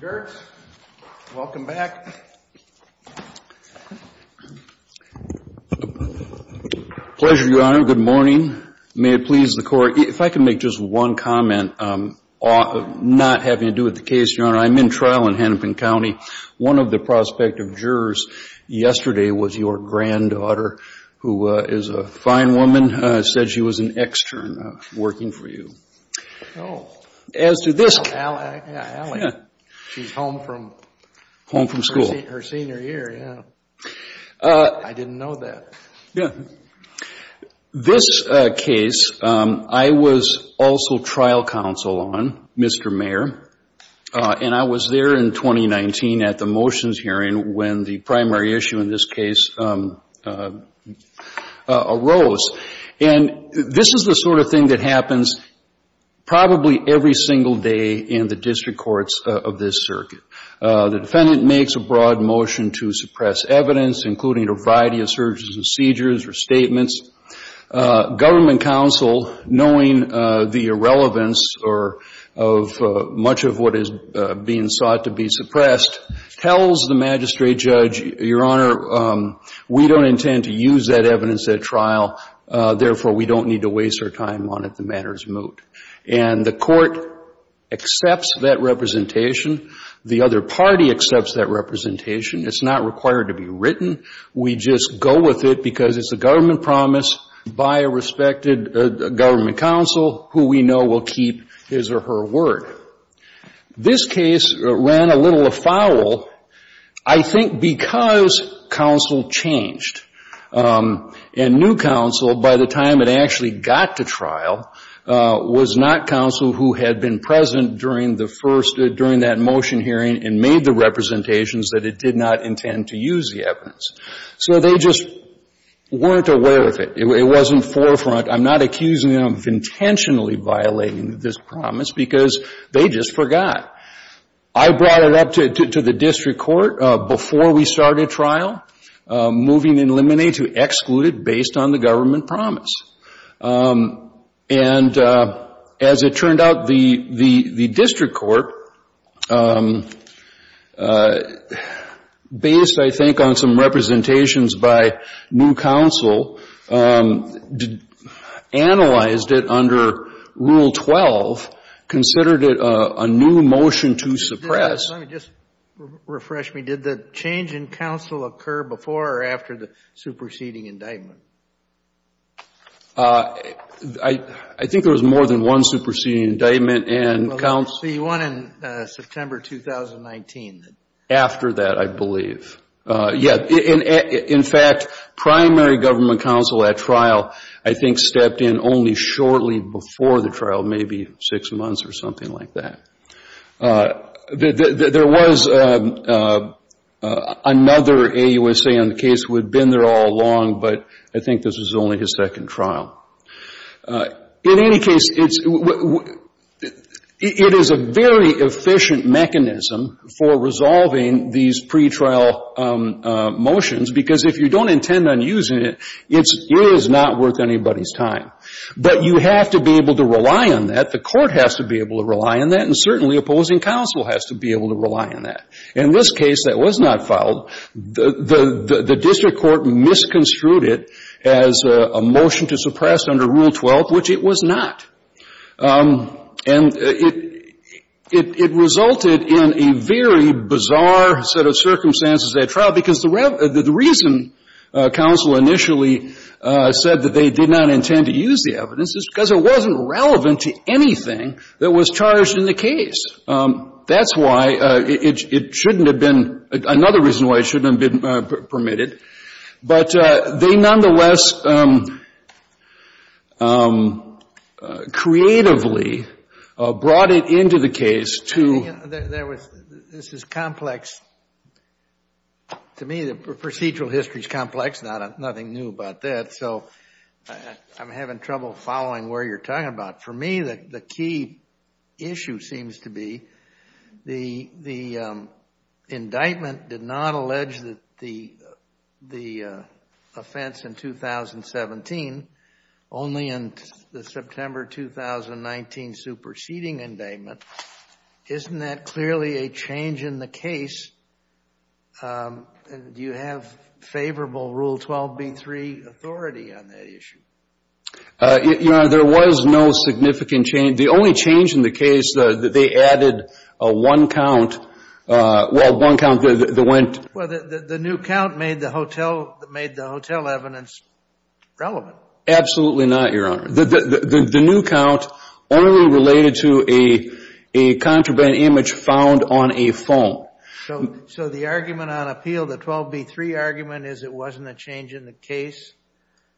Gertz. Welcome back. Pleasure, Your Honor. Good morning. May it please the Court, if I can make just one comment, not having to do with the case, Your Honor, I'm in trial in Hennepin County. One of the prospective jurors yesterday was your granddaughter. My granddaughter, who is a fine woman, said she was an extern working for you. As to this case, I was also trial counsel on Mr. Mayer. And I was there in 2019 at the motions hearing when the primary issue in this case arose. And this is the sort of thing that happens probably every single day in the district courts of this circuit. The defendant makes a broad motion to suppress evidence, including a variety of surges and seizures or statements. Government counsel, knowing the irrelevance of much of what is being sought to be suppressed, tells the magistrate judge, Your Honor, we don't intend to use that evidence at trial. Therefore, we don't need to waste our time on it. The matter is moot. And the Court accepts that representation. The other party accepts that representation. It's not required to be written. We just go with it because it's a government promise by a respected government counsel who we know will keep his or her word. This case ran a little afoul, I think, because counsel changed. And new counsel, by the time it actually got to trial, was not counsel who had been present during the first — during that motion hearing and made the representations that it did not intend to use the evidence. So they just weren't aware of it. It wasn't forefront. I'm not accusing them of intentionally violating this promise because they just forgot. I brought it up to the district court before we started trial, moving in limine to exclude it based on the government promise. And as it turned out, the district court, based, I think, on some representations by new counsel, analyzed it under Rule 12, considered it a new motion to suppress. Let me just refresh me. Did the change in counsel occur before or after the superseding indictment? I think there was more than one superseding indictment. Well, let's see, one in September 2019. After that, I believe. Yeah. In fact, primary government counsel at trial, I think, stepped in only shortly before the trial, maybe six months or something like that. There was another AUSA on the case who had been there all along, but I think this was only his second trial. In any case, it is a very efficient mechanism for resolving these pretrial motions because if you don't intend on using it, it is not worth anybody's time. But you have to be able to rely on that. The court has to be able to rely on that, and certainly opposing counsel has to be able to rely on that. In this case that was not filed, the district court misconstrued it as a motion to suppress under Rule 12, which it was not. And it resulted in a very bizarre set of circumstances at trial because the reason counsel initially said that they did not intend to use the evidence is because it wasn't relevant to anything that was charged in the case. That's why it shouldn't have been — another reason why it shouldn't have been permitted. But they nonetheless creatively brought it into the case to — This is complex. To me, the procedural history is complex. Nothing new about that. So I'm having trouble following where you're talking about. For me, the key issue seems to be the indictment did not allege the offense in 2017, only in the September 2019 superseding indictment. Isn't that clearly a change in the case? Do you have favorable Rule 12b-3 authority on that issue? Your Honor, there was no significant change. The only change in the case, they added a one count — well, one count that went — Well, the new count made the hotel evidence relevant. Absolutely not, Your Honor. The new count only related to a contraband image found on a phone. So the argument on appeal, the 12b-3 argument, is it wasn't a change in the case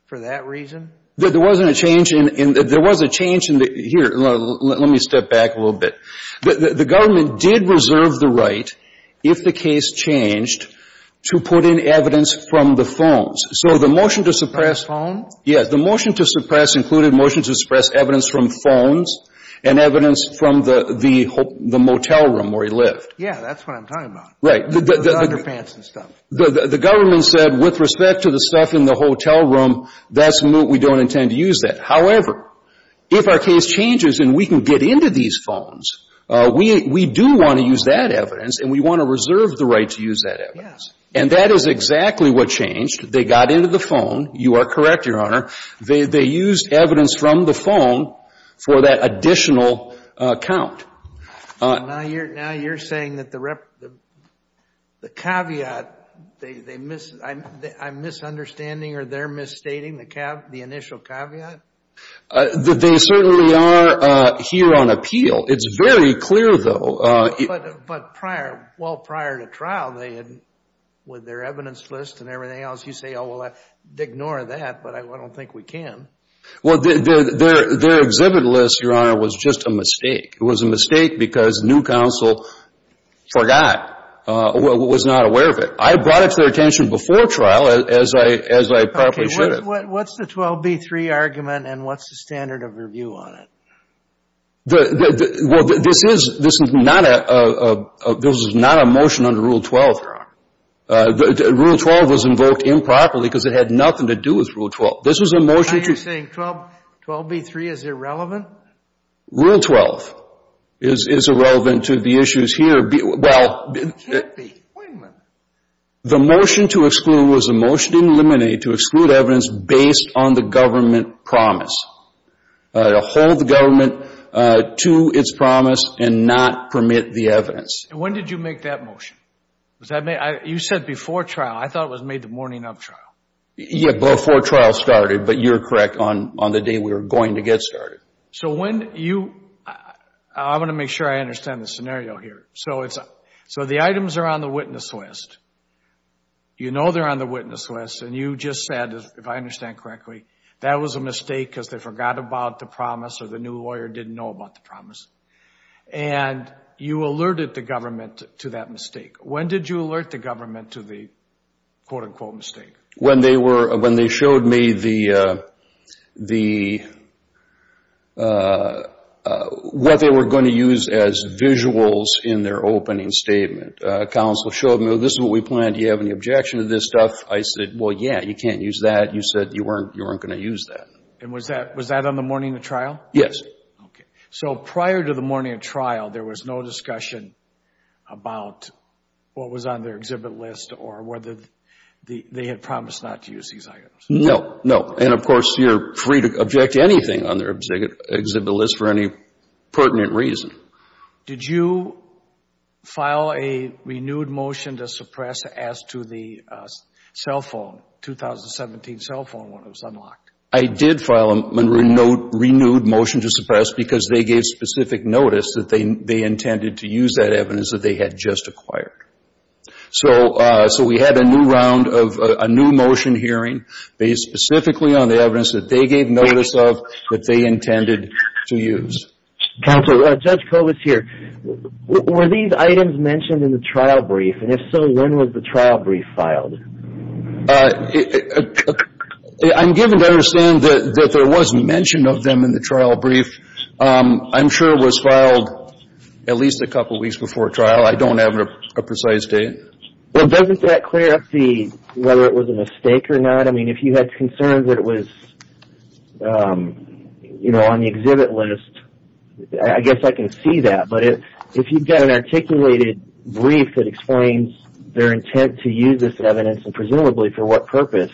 for that reason? There wasn't a change in — there was a change in the — here, let me step back a little bit. The government did reserve the right, if the case changed, to put in evidence from the phones. So the motion to suppress — The phone? Yes, the motion to suppress included motion to suppress evidence from phones and evidence from the motel room where he lived. Yeah, that's what I'm talking about. Right. Underpants and stuff. The government said, with respect to the stuff in the hotel room, that's — we don't intend to use that. However, if our case changes and we can get into these phones, we do want to use that evidence and we want to reserve the right to use that evidence. Yes. And that is exactly what changed. They got into the phone. You are correct, Your Honor. They used evidence from the phone for that additional count. Now you're saying that the caveat, I'm misunderstanding or they're misstating the initial caveat? They certainly are here on appeal. It's very clear, though. But prior — well, prior to trial, they had — with their evidence list and everything else, you say, oh, well, ignore that, but I don't think we can. Well, their exhibit list, Your Honor, was just a mistake. It was a mistake because new counsel forgot, was not aware of it. I brought it to their attention before trial, as I probably should have. Okay. What's the 12B3 argument and what's the standard of review on it? Well, this is not a — this is not a motion under Rule 12, Your Honor. Rule 12 was invoked improperly because it had nothing to do with Rule 12. This was a motion to — Now you're saying 12B3 is irrelevant? Rule 12 is irrelevant to the issues here. Well — It can't be. Wait a minute. The motion to exclude was a motion to eliminate, to exclude evidence based on the government promise, to hold the government to its promise and not permit the evidence. And when did you make that motion? Was that made — you said before trial. I thought it was made the morning of trial. Yeah, before trial started. But you're correct on the day we were going to get started. So when you — I want to make sure I understand the scenario here. So it's — so the items are on the witness list. You know they're on the witness list. And you just said, if I understand correctly, that was a mistake because they forgot about the promise or the new lawyer didn't know about the promise. And you alerted the government to that mistake. When did you alert the government to the, quote, unquote, mistake? When they were — when they showed me the — what they were going to use as visuals in their opening statement. Counsel showed me, well, this is what we planned. Do you have any objection to this stuff? I said, well, yeah, you can't use that. You said you weren't going to use that. And was that on the morning of trial? Yes. Okay. So prior to the morning of trial, there was no discussion about what was on their exhibit list or whether they had promised not to use these items. No, no. And, of course, you're free to object to anything on their exhibit list for any pertinent reason. Did you file a renewed motion to suppress as to the cell phone, 2017 cell phone, when it was unlocked? I did file a renewed motion to suppress because they gave specific notice that they intended to use that evidence that they had just acquired. So we had a new round of — a new motion hearing based specifically on the evidence that they gave notice of that they intended to use. Counsel, Judge Kovats here. Were these items mentioned in the trial brief? And if so, when was the trial brief filed? I'm given to understand that there was mention of them in the trial brief. I'm sure it was filed at least a couple weeks before trial. I don't have a precise date. Well, doesn't that clear up whether it was a mistake or not? I mean, if you had concerns that it was, you know, on the exhibit list, I guess I can see that. But if you've got an articulated brief that explains their intent to use this evidence, and presumably for what purpose,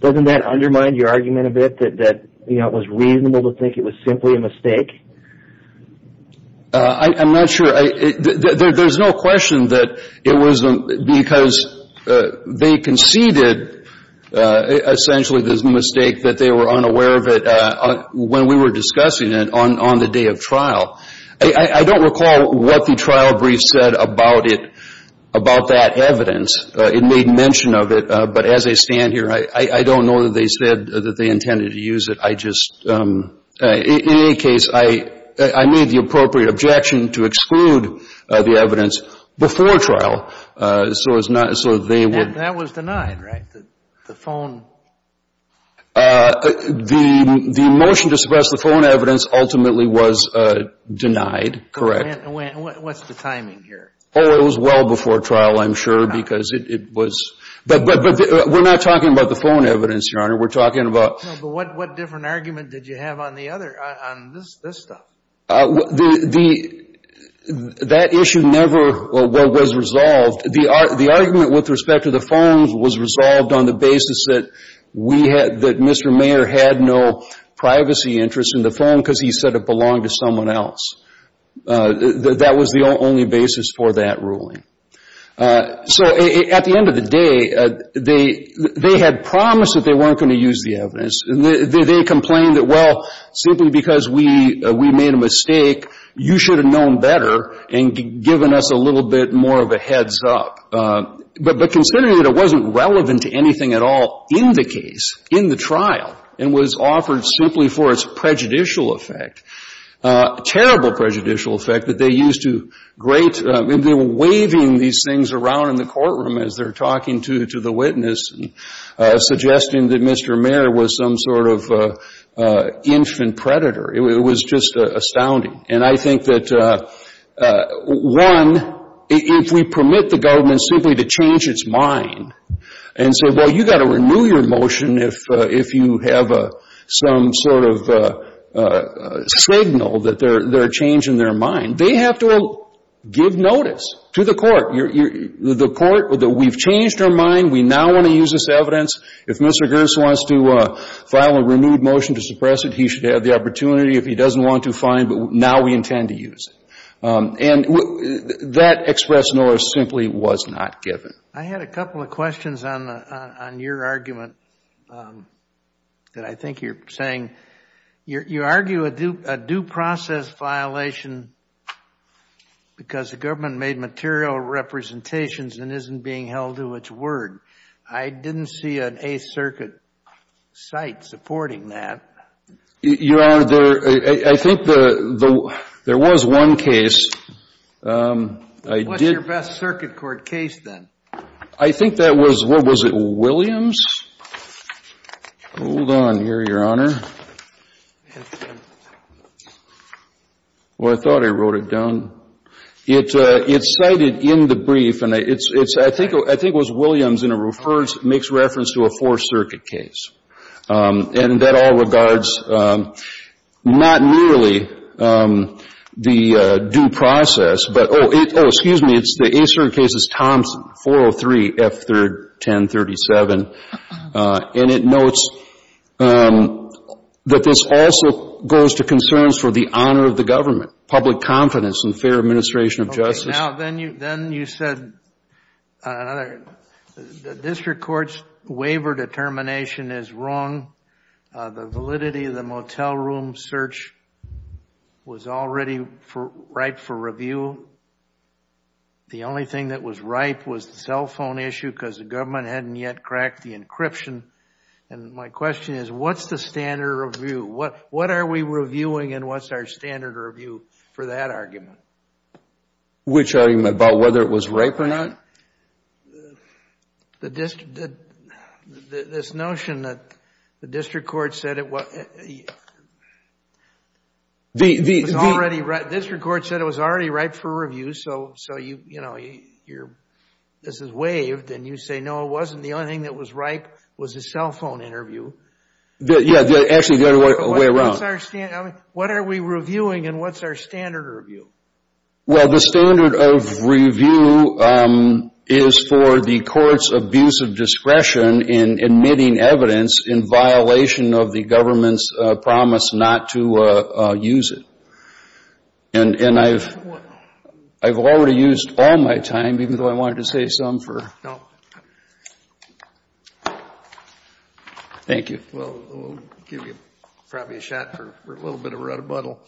doesn't that undermine your argument a bit that, you know, it was reasonable to think it was simply a mistake? I'm not sure. There's no question that it was because they conceded, essentially, the mistake that they were unaware of it when we were discussing it on the day of trial. I don't recall what the trial brief said about it, about that evidence. It made mention of it. But as I stand here, I don't know that they said that they intended to use it. I just – in any case, I made the appropriate objection to exclude the evidence before trial. So it's not – so they would – That was denied, right, the phone? The motion to suppress the phone evidence ultimately was denied, correct. And what's the timing here? Oh, it was well before trial, I'm sure, because it was – but we're not talking about the phone evidence, Your Honor. We're talking about – No, but what different argument did you have on the other – on this stuff? The – that issue never was resolved. The argument with respect to the phone was resolved on the basis that we had – that Mr. Mayer had no privacy interest in the phone because he said it belonged to someone else. That was the only basis for that ruling. So at the end of the day, they had promised that they weren't going to use the evidence. They complained that, well, simply because we made a mistake, you should have known better and given us a little bit more of a heads-up. But considering that it wasn't relevant to anything at all in the case, in the trial, and was offered simply for its prejudicial effect, terrible prejudicial effect that they used to great – they were waving these things around in the courtroom as they were talking to the witness and suggesting that Mr. Mayer was some sort of infant predator. It was just astounding. And I think that, one, if we permit the government simply to change its mind and say, well, you've got to renew your motion if you have some sort of signal that they're changing their mind, they have to give notice to the court. The court – we've changed our mind. We now want to use this evidence. If Mr. Gerst wants to file a renewed motion to suppress it, he should have the opportunity. If he doesn't want to, fine, but now we intend to use it. And that express notice simply was not given. I had a couple of questions on your argument that I think you're saying. You argue a due process violation because the government made material representations and isn't being held to its word. I didn't see an Eighth Circuit site supporting that. Your Honor, I think there was one case. What's your best circuit court case, then? I think that was, what was it, Williams? Hold on here, Your Honor. Well, I thought I wrote it down. It's cited in the brief, and I think it was Williams, and it makes reference to a Fourth Circuit case. And that all regards not merely the due process, but – oh, excuse me. It's the Eighth Circuit case. It's Thompson, 403 F3rd 1037. And it notes that this also goes to concerns for the honor of the government, public confidence, and fair administration of justice. Now, then you said the district court's waiver determination is wrong. The validity of the motel room search was already ripe for review. The only thing that was ripe was the cell phone issue because the government hadn't yet cracked the encryption. And my question is, what's the standard review? What are we reviewing, and what's our standard review for that argument? Which argument? About whether it was ripe or not? This notion that the district court said it was already ripe. The district court said it was already ripe for review, so, you know, this is waived. And you say, no, it wasn't. The only thing that was ripe was the cell phone interview. Yeah, actually, the other way around. What are we reviewing, and what's our standard review? Well, the standard of review is for the court's abuse of discretion in admitting evidence in violation of the government's promise not to use it. And I've already used all my time, even though I wanted to save some for... No. Thank you. Well, we'll give you probably a shot for a little bit of a rebuttal.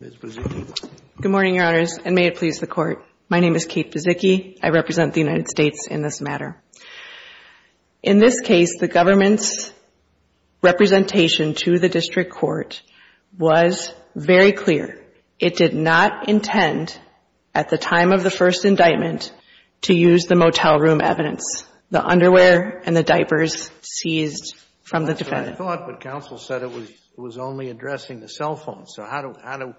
Good morning, Your Honors, and may it please the Court. My name is Kate Buzicki. I represent the United States in this matter. In this case, the government's representation to the district court was very clear. It did not intend, at the time of the first indictment, to use the motel room evidence, the underwear and the diapers seized from the defendant. That's what I thought, but counsel said it was only addressing the cell phone. So how do...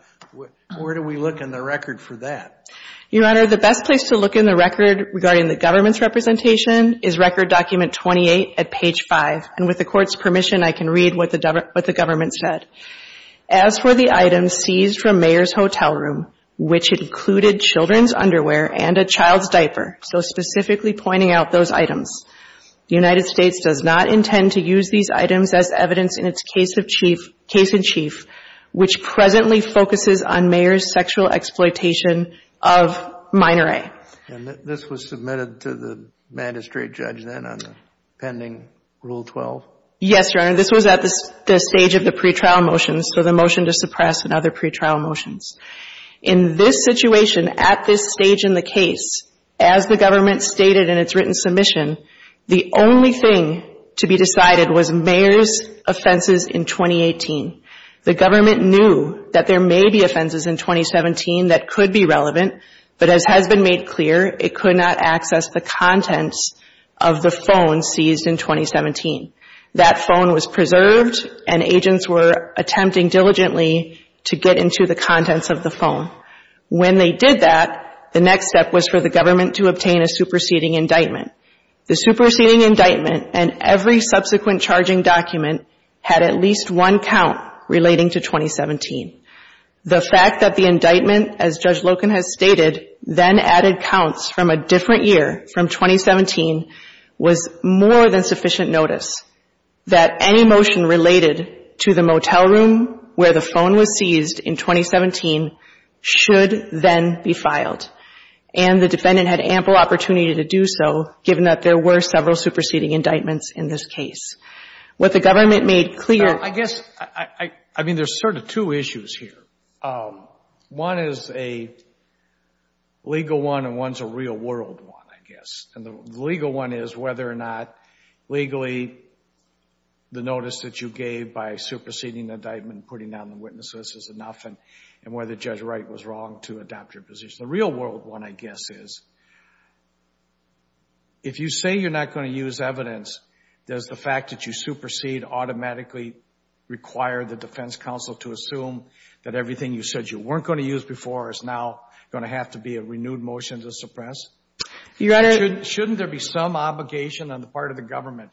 Where do we look in the record for that? Your Honor, the best place to look in the record regarding the government's representation is Record Document 28 at page 5. And with the Court's permission, I can read what the government said. As for the items seized from Mayer's hotel room, which included children's underwear and a child's diaper, so specifically pointing out those items, the United States does not intend to use these items as evidence in its case in chief, which presently focuses on Mayer's sexual exploitation of minor A. And this was submitted to the magistrate judge then on the pending Rule 12? Yes, Your Honor, this was at the stage of the pretrial motions, so the motion to suppress and other pretrial motions. In this situation, at this stage in the case, as the government stated in its written submission, the only thing to be decided was Mayer's offenses in 2018. The government knew that there may be offenses in 2017 that could be relevant, but as has been made clear, it could not access the contents of the phone seized in 2017. That phone was preserved, and agents were attempting diligently to get into the contents of the phone. When they did that, the next step was for the government to obtain a superseding indictment. The superseding indictment and every subsequent charging document had at least one count relating to 2017. The fact that the indictment, as Judge Loken has stated, then added counts from a different year from 2017 was more than sufficient notice that any motion related to the motel room where the phone was seized in 2017 should then be filed. And the defendant had ample opportunity to do so, given that there were several superseding indictments in this case. What the government made clear — I guess — I mean, there's sort of two issues here. One is a legal one, and one's a real-world one, I guess. And the legal one is whether or not, legally, the notice that you gave by superseding the indictment and putting down the witnesses is enough, and whether Judge Wright was wrong to adopt your position. The real-world one, I guess, is if you say you're not going to use evidence, does the fact that you supersede automatically require the defense counsel to assume that everything you said you weren't going to use before is now going to have to be a renewed motion to suppress? Shouldn't there be some obligation on the part of the government,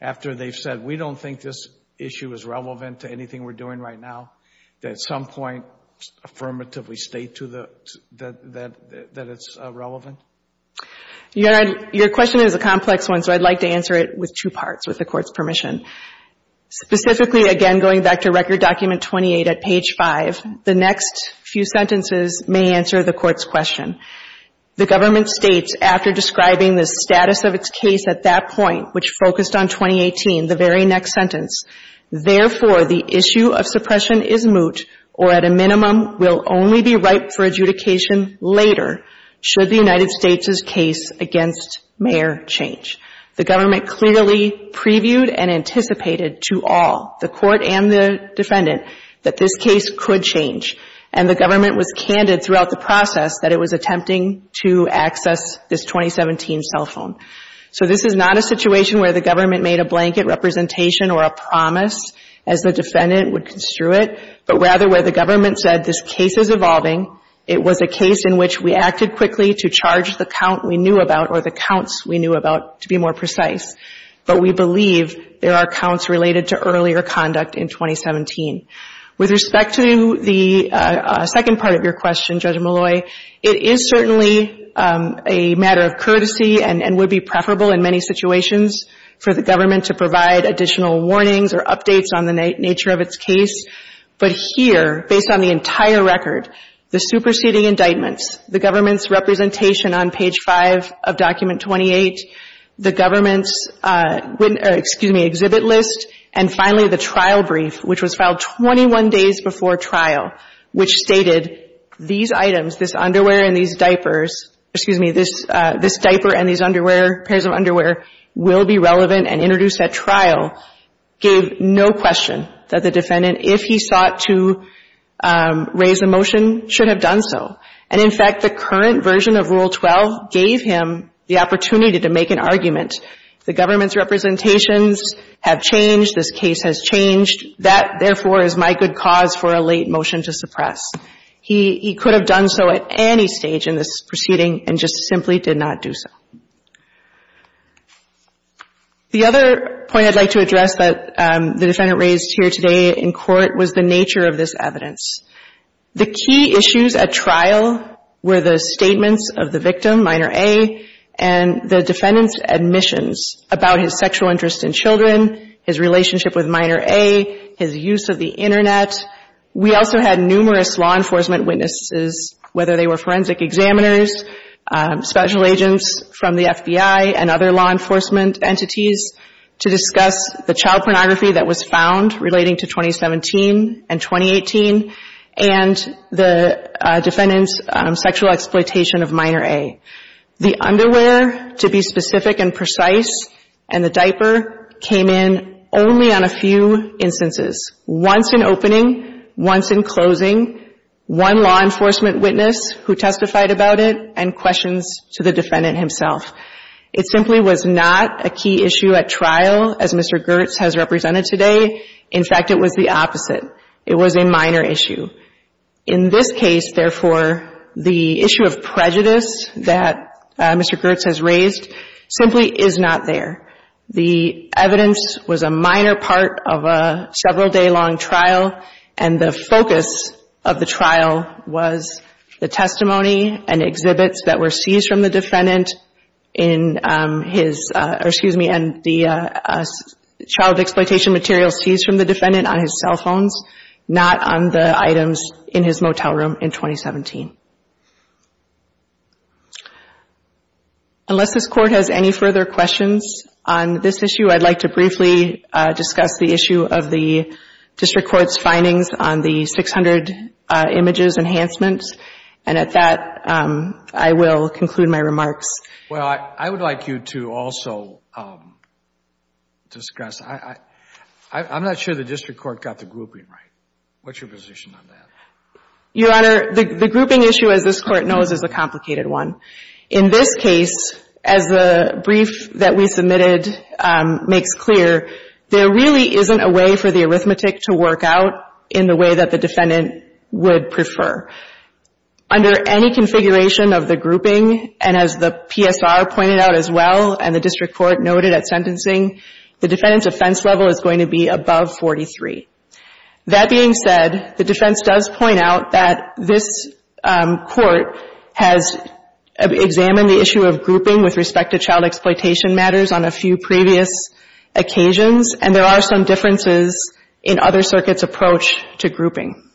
after they've said, we don't think this issue is relevant to anything we're doing right now, that at some point affirmatively state that it's relevant? Your question is a complex one, so I'd like to answer it with two parts, with the Court's permission. Specifically, again, going back to Record Document 28 at page 5, the next few sentences may answer the Court's question. The government states, after describing the status of its case at that point, which focused on 2018, the very next sentence, Therefore, the issue of suppression is moot, or at a minimum will only be ripe for adjudication later, should the United States' case against Mayer change. The government clearly previewed and anticipated to all, the Court and the defendant, that this case could change, and the government was candid throughout the process that it was attempting to access this 2017 cell phone. So this is not a situation where the government made a blanket representation or a promise, as the defendant would construe it, but rather where the government said, this case is evolving, it was a case in which we acted quickly to charge the count we knew about or the counts we knew about, to be more precise. But we believe there are counts related to earlier conduct in 2017. With respect to the second part of your question, Judge Malloy, it is certainly a matter of courtesy and would be preferable in many situations for the government to provide additional warnings or updates on the nature of its case. But here, based on the entire record, the superseding indictments, the government's representation on page 5 of Document 28, the government's exhibit list, and finally the trial brief, which was filed 21 days before trial, which stated these items, this underwear and these diapers, excuse me, this diaper and these pairs of underwear, will be relevant and introduced at trial, gave no question that the defendant, if he sought to raise a motion, should have done so. And in fact, the current version of Rule 12 gave him the opportunity to make an argument. The government's representations have changed, this case has changed. That, therefore, is my good cause for a late motion to suppress. He could have done so at any stage in this proceeding and just simply did not do so. The other point I'd like to address that the defendant raised here today in court was the nature of this evidence. The key issues at trial were the statements of the victim, minor A, and the defendant's admissions about his sexual interest in children, his relationship with minor A, his use of the Internet. We also had numerous law enforcement witnesses, whether they were forensic examiners, special agents from the FBI and other law enforcement entities, to discuss the child pornography that was found relating to 2017 and 2018 and the defendant's sexual exploitation of minor A. The underwear, to be specific and precise, and the diaper came in only on a few instances. Once in opening, once in closing, one law enforcement witness who testified about it and questions to the defendant himself. It simply was not a key issue at trial as Mr. Gertz has represented today. In fact, it was the opposite. It was a minor issue. In this case, therefore, the issue of prejudice that Mr. Gertz has raised simply is not there. The evidence was a minor part of a several-day-long trial, and the focus of the trial was the testimony and exhibits that were seized from the defendant in his, or excuse me, and the child exploitation material seized from the defendant on his cell phones, not on the items in his motel room in 2017. Unless this Court has any further questions on this issue, I'd like to briefly discuss the issue of the district court's findings on the 600 images enhancements, and at that, I will conclude my remarks. Well, I would like you to also discuss, I'm not sure the district court got the grouping right. What's your position on that? Your Honor, the grouping issue, as this Court knows, is a complicated one. In this case, as the brief that we submitted makes clear, there really isn't a way for the arithmetic to work out in the way that the defendant would prefer. Under any configuration of the grouping, and as the PSR pointed out as well, and the district court noted at sentencing, the defendant's offense level is going to be above 43. That being said, the defense does point out that this Court has examined the issue of grouping with respect to child exploitation matters on a few previous occasions, and there are some differences in other circuits' approach to grouping.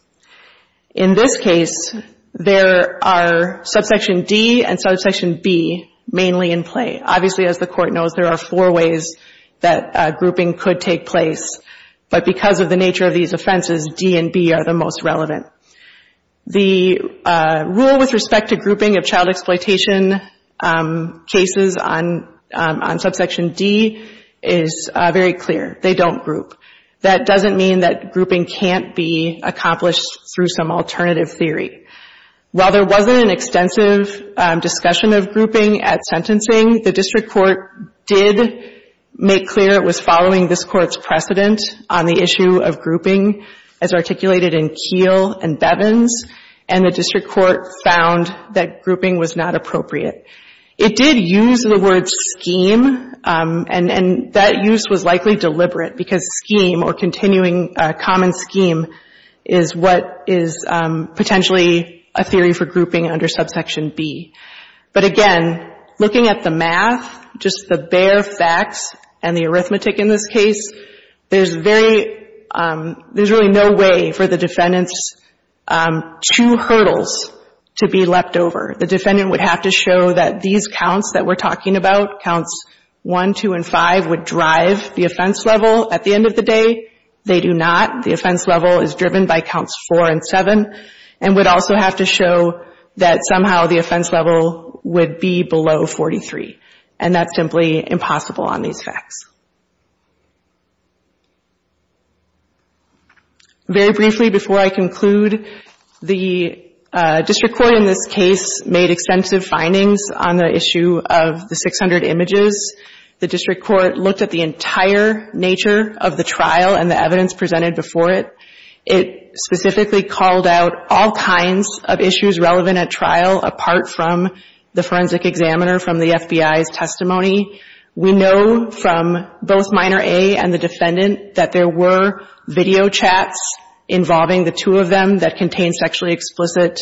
In this case, there are subsection D and subsection B mainly in play. Obviously, as the Court knows, there are four ways that grouping could take place, but because of the nature of these offenses, D and B are the most relevant. The rule with respect to grouping of child exploitation cases on subsection D is very clear. They don't group. That doesn't mean that grouping can't be accomplished through some alternative theory. While there wasn't an extensive discussion of grouping at sentencing, the district court did make clear it was following this Court's precedent on the issue of grouping as articulated in Keel and Bevins, and the district court found that grouping was not appropriate. It did use the word scheme, and that use was likely deliberate because scheme or continuing common scheme is what is potentially a theory for grouping under subsection B. But again, looking at the math, just the bare facts and the arithmetic in this case, there's very – there's really no way for the defendant's two hurdles to be leapt over. The defendant would have to show that these counts that we're talking about, counts 1, 2, and 5, would drive the offense level at the end of the day. They do not. The offense level is driven by counts 4 and 7, and would also have to show that somehow the offense level would be below 43, and that's simply impossible on these facts. Very briefly, before I conclude, the district court in this case made extensive findings on the issue of the 600 images. The district court looked at the entire nature of the trial and the evidence presented before it. It specifically called out all kinds of issues relevant at trial, apart from the forensic examiner from the FBI's testimony. We know from both Minor A and the defendant that there were video chats involving the two of them that contained sexually explicit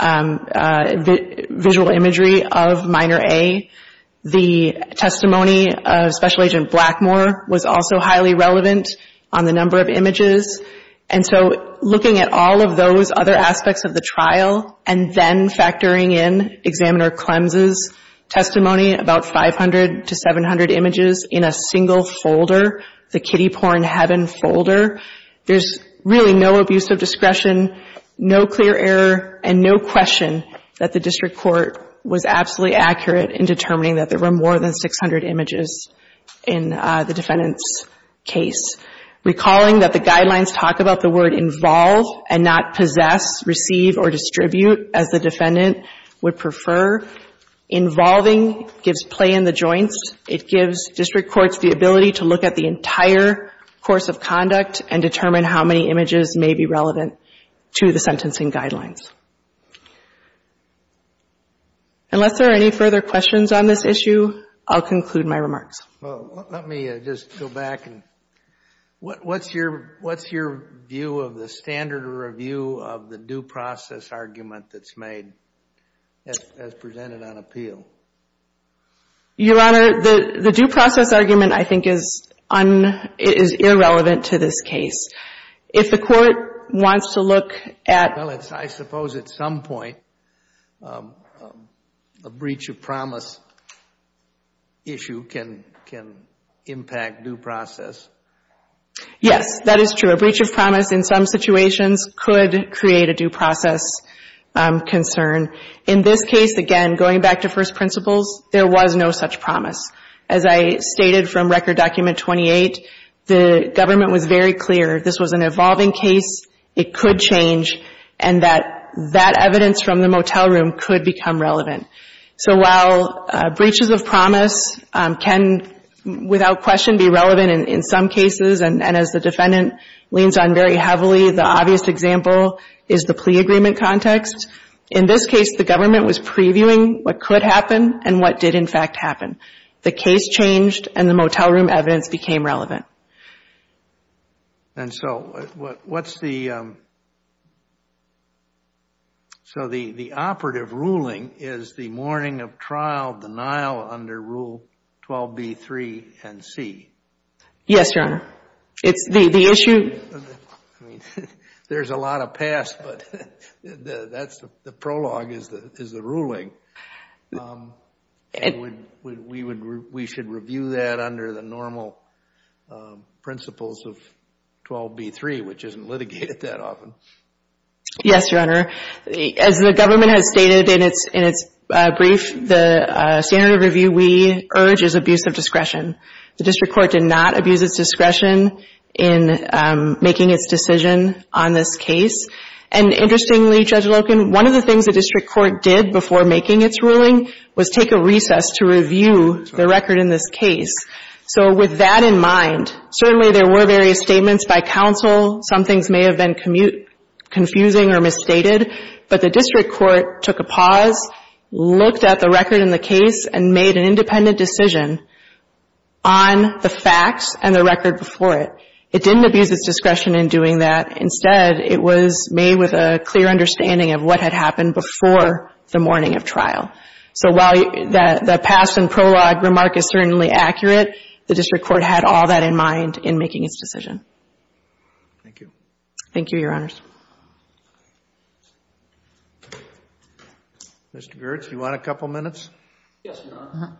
visual imagery of Minor A. The testimony of Special Agent Blackmore was also highly relevant on the number of images, and so looking at all of those other aspects of the trial and then factoring in Examiner Clemson's testimony about 500 to 700 images in a single folder, the kiddie porn heaven folder, there's really no abuse of discretion, no clear error, and no question that the district court was absolutely accurate in determining that there were more than 600 images in the defendant's case. Recalling that the guidelines talk about the word involve and not possess, receive, or distribute, as the defendant would prefer, involving gives play in the joints. It gives district courts the ability to look at the entire course of conduct and determine how many images may be relevant to the sentencing guidelines. Unless there are any further questions on this issue, I'll conclude my remarks. Well, let me just go back. What's your view of the standard review of the due process argument that's made as presented on appeal? Your Honor, the due process argument, I think, is irrelevant to this case. If the court wants to look at Well, I suppose at some point a breach of promise issue can impact due process. Yes, that is true. A breach of promise in some situations could create a due process concern. In this case, again, going back to first principles, there was no such promise. As I stated from Record Document 28, the government was very clear this was an evolving case, it could change, and that that evidence from the motel room could become relevant. So while breaches of promise can without question be relevant in some cases, and as the defendant leans on very heavily, the obvious example is the plea agreement context. In this case, the government was previewing what could happen and what did, in fact, happen. The case changed, and the motel room evidence became relevant. And so what's the So the operative ruling is the morning of trial denial under Rule 12b3 NC. Yes, Your Honor. It's the issue There's a lot of past, but the prologue is the ruling. We should review that under the normal principles of 12b3, which isn't litigated that often. Yes, Your Honor. As the government has stated in its brief, the standard of review we urge is abuse of discretion. The district court did not abuse its discretion in making its decision on this case. And interestingly, Judge Loken, one of the things the district court did before making its ruling was take a recess to review the record in this case. So with that in mind, certainly there were various statements by counsel. Some things may have been confusing or misstated, but the district court took a pause, looked at the record in the case, and made an independent decision on the facts and the record before it. It didn't abuse its discretion in doing that. Instead, it was made with a clear understanding of what had happened before the morning of trial. So while the past and prologue remark is certainly accurate, the district court had all that in mind in making its decision. Thank you. Thank you, Your Honors. Mr. Girtz, do you want a couple minutes? Yes, Your Honor.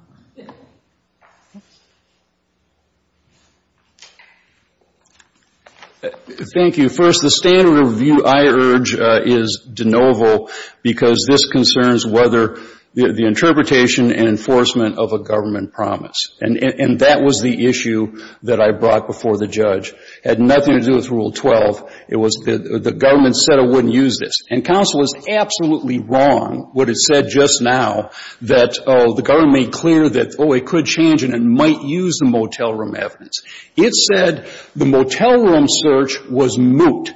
Thank you. First, the standard of review I urge is de novo because this concerns whether the interpretation and enforcement of a government promise. And that was the issue that I brought before the judge. It had nothing to do with Rule 12. It was the government said it wouldn't use this. And counsel is absolutely wrong what it said just now, that the government made clear that, oh, it could change and it might use the motel room evidence. It said the motel room search was moot.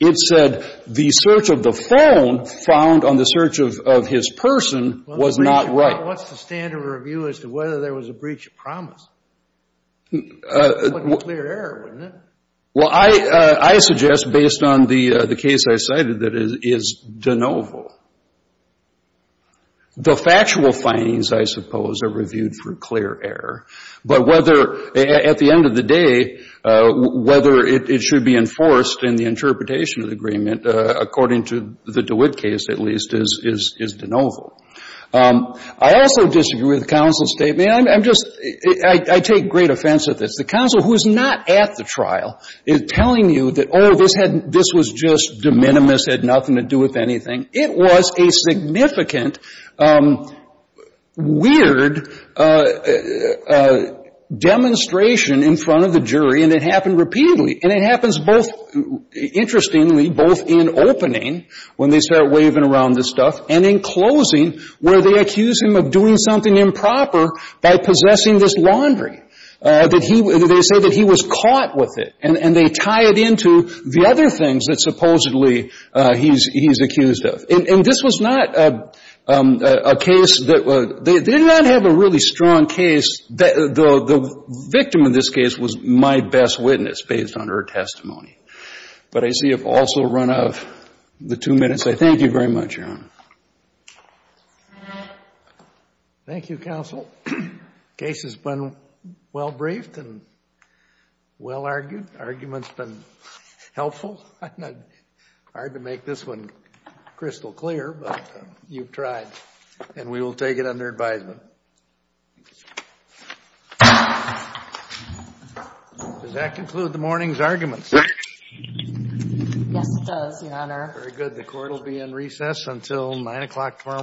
It said the search of the phone found on the search of his person was not right. What's the standard of review as to whether there was a breach of promise? It's a clear error, isn't it? Well, I suggest, based on the case I cited, that it is de novo. The factual findings, I suppose, are reviewed for clear error. But whether, at the end of the day, whether it should be enforced in the interpretation of the agreement, according to the DeWitt case, at least, is de novo. I also disagree with the counsel's statement. I'm just — I take great offense at this. The counsel who is not at the trial is telling you that, oh, this was just de minimis, had nothing to do with anything. It was a significant, weird demonstration in front of the jury, and it happened repeatedly. And it happens both — interestingly, both in opening, when they start waving around this stuff, and in closing, where they accuse him of doing something improper by possessing this laundry. They say that he was caught with it. And they tie it into the other things that supposedly he's accused of. And this was not a case that — they did not have a really strong case. The victim in this case was my best witness, based on her testimony. But I see I've also run out of the two minutes. I thank you very much, Your Honor. Thank you, counsel. The case has been well briefed and well argued. The argument's been helpful. It's hard to make this one crystal clear, but you've tried. And we will take it under advisement. Does that conclude the morning's arguments? Yes, it does, Your Honor. Very good. The court will be in recess until 9 o'clock tomorrow morning.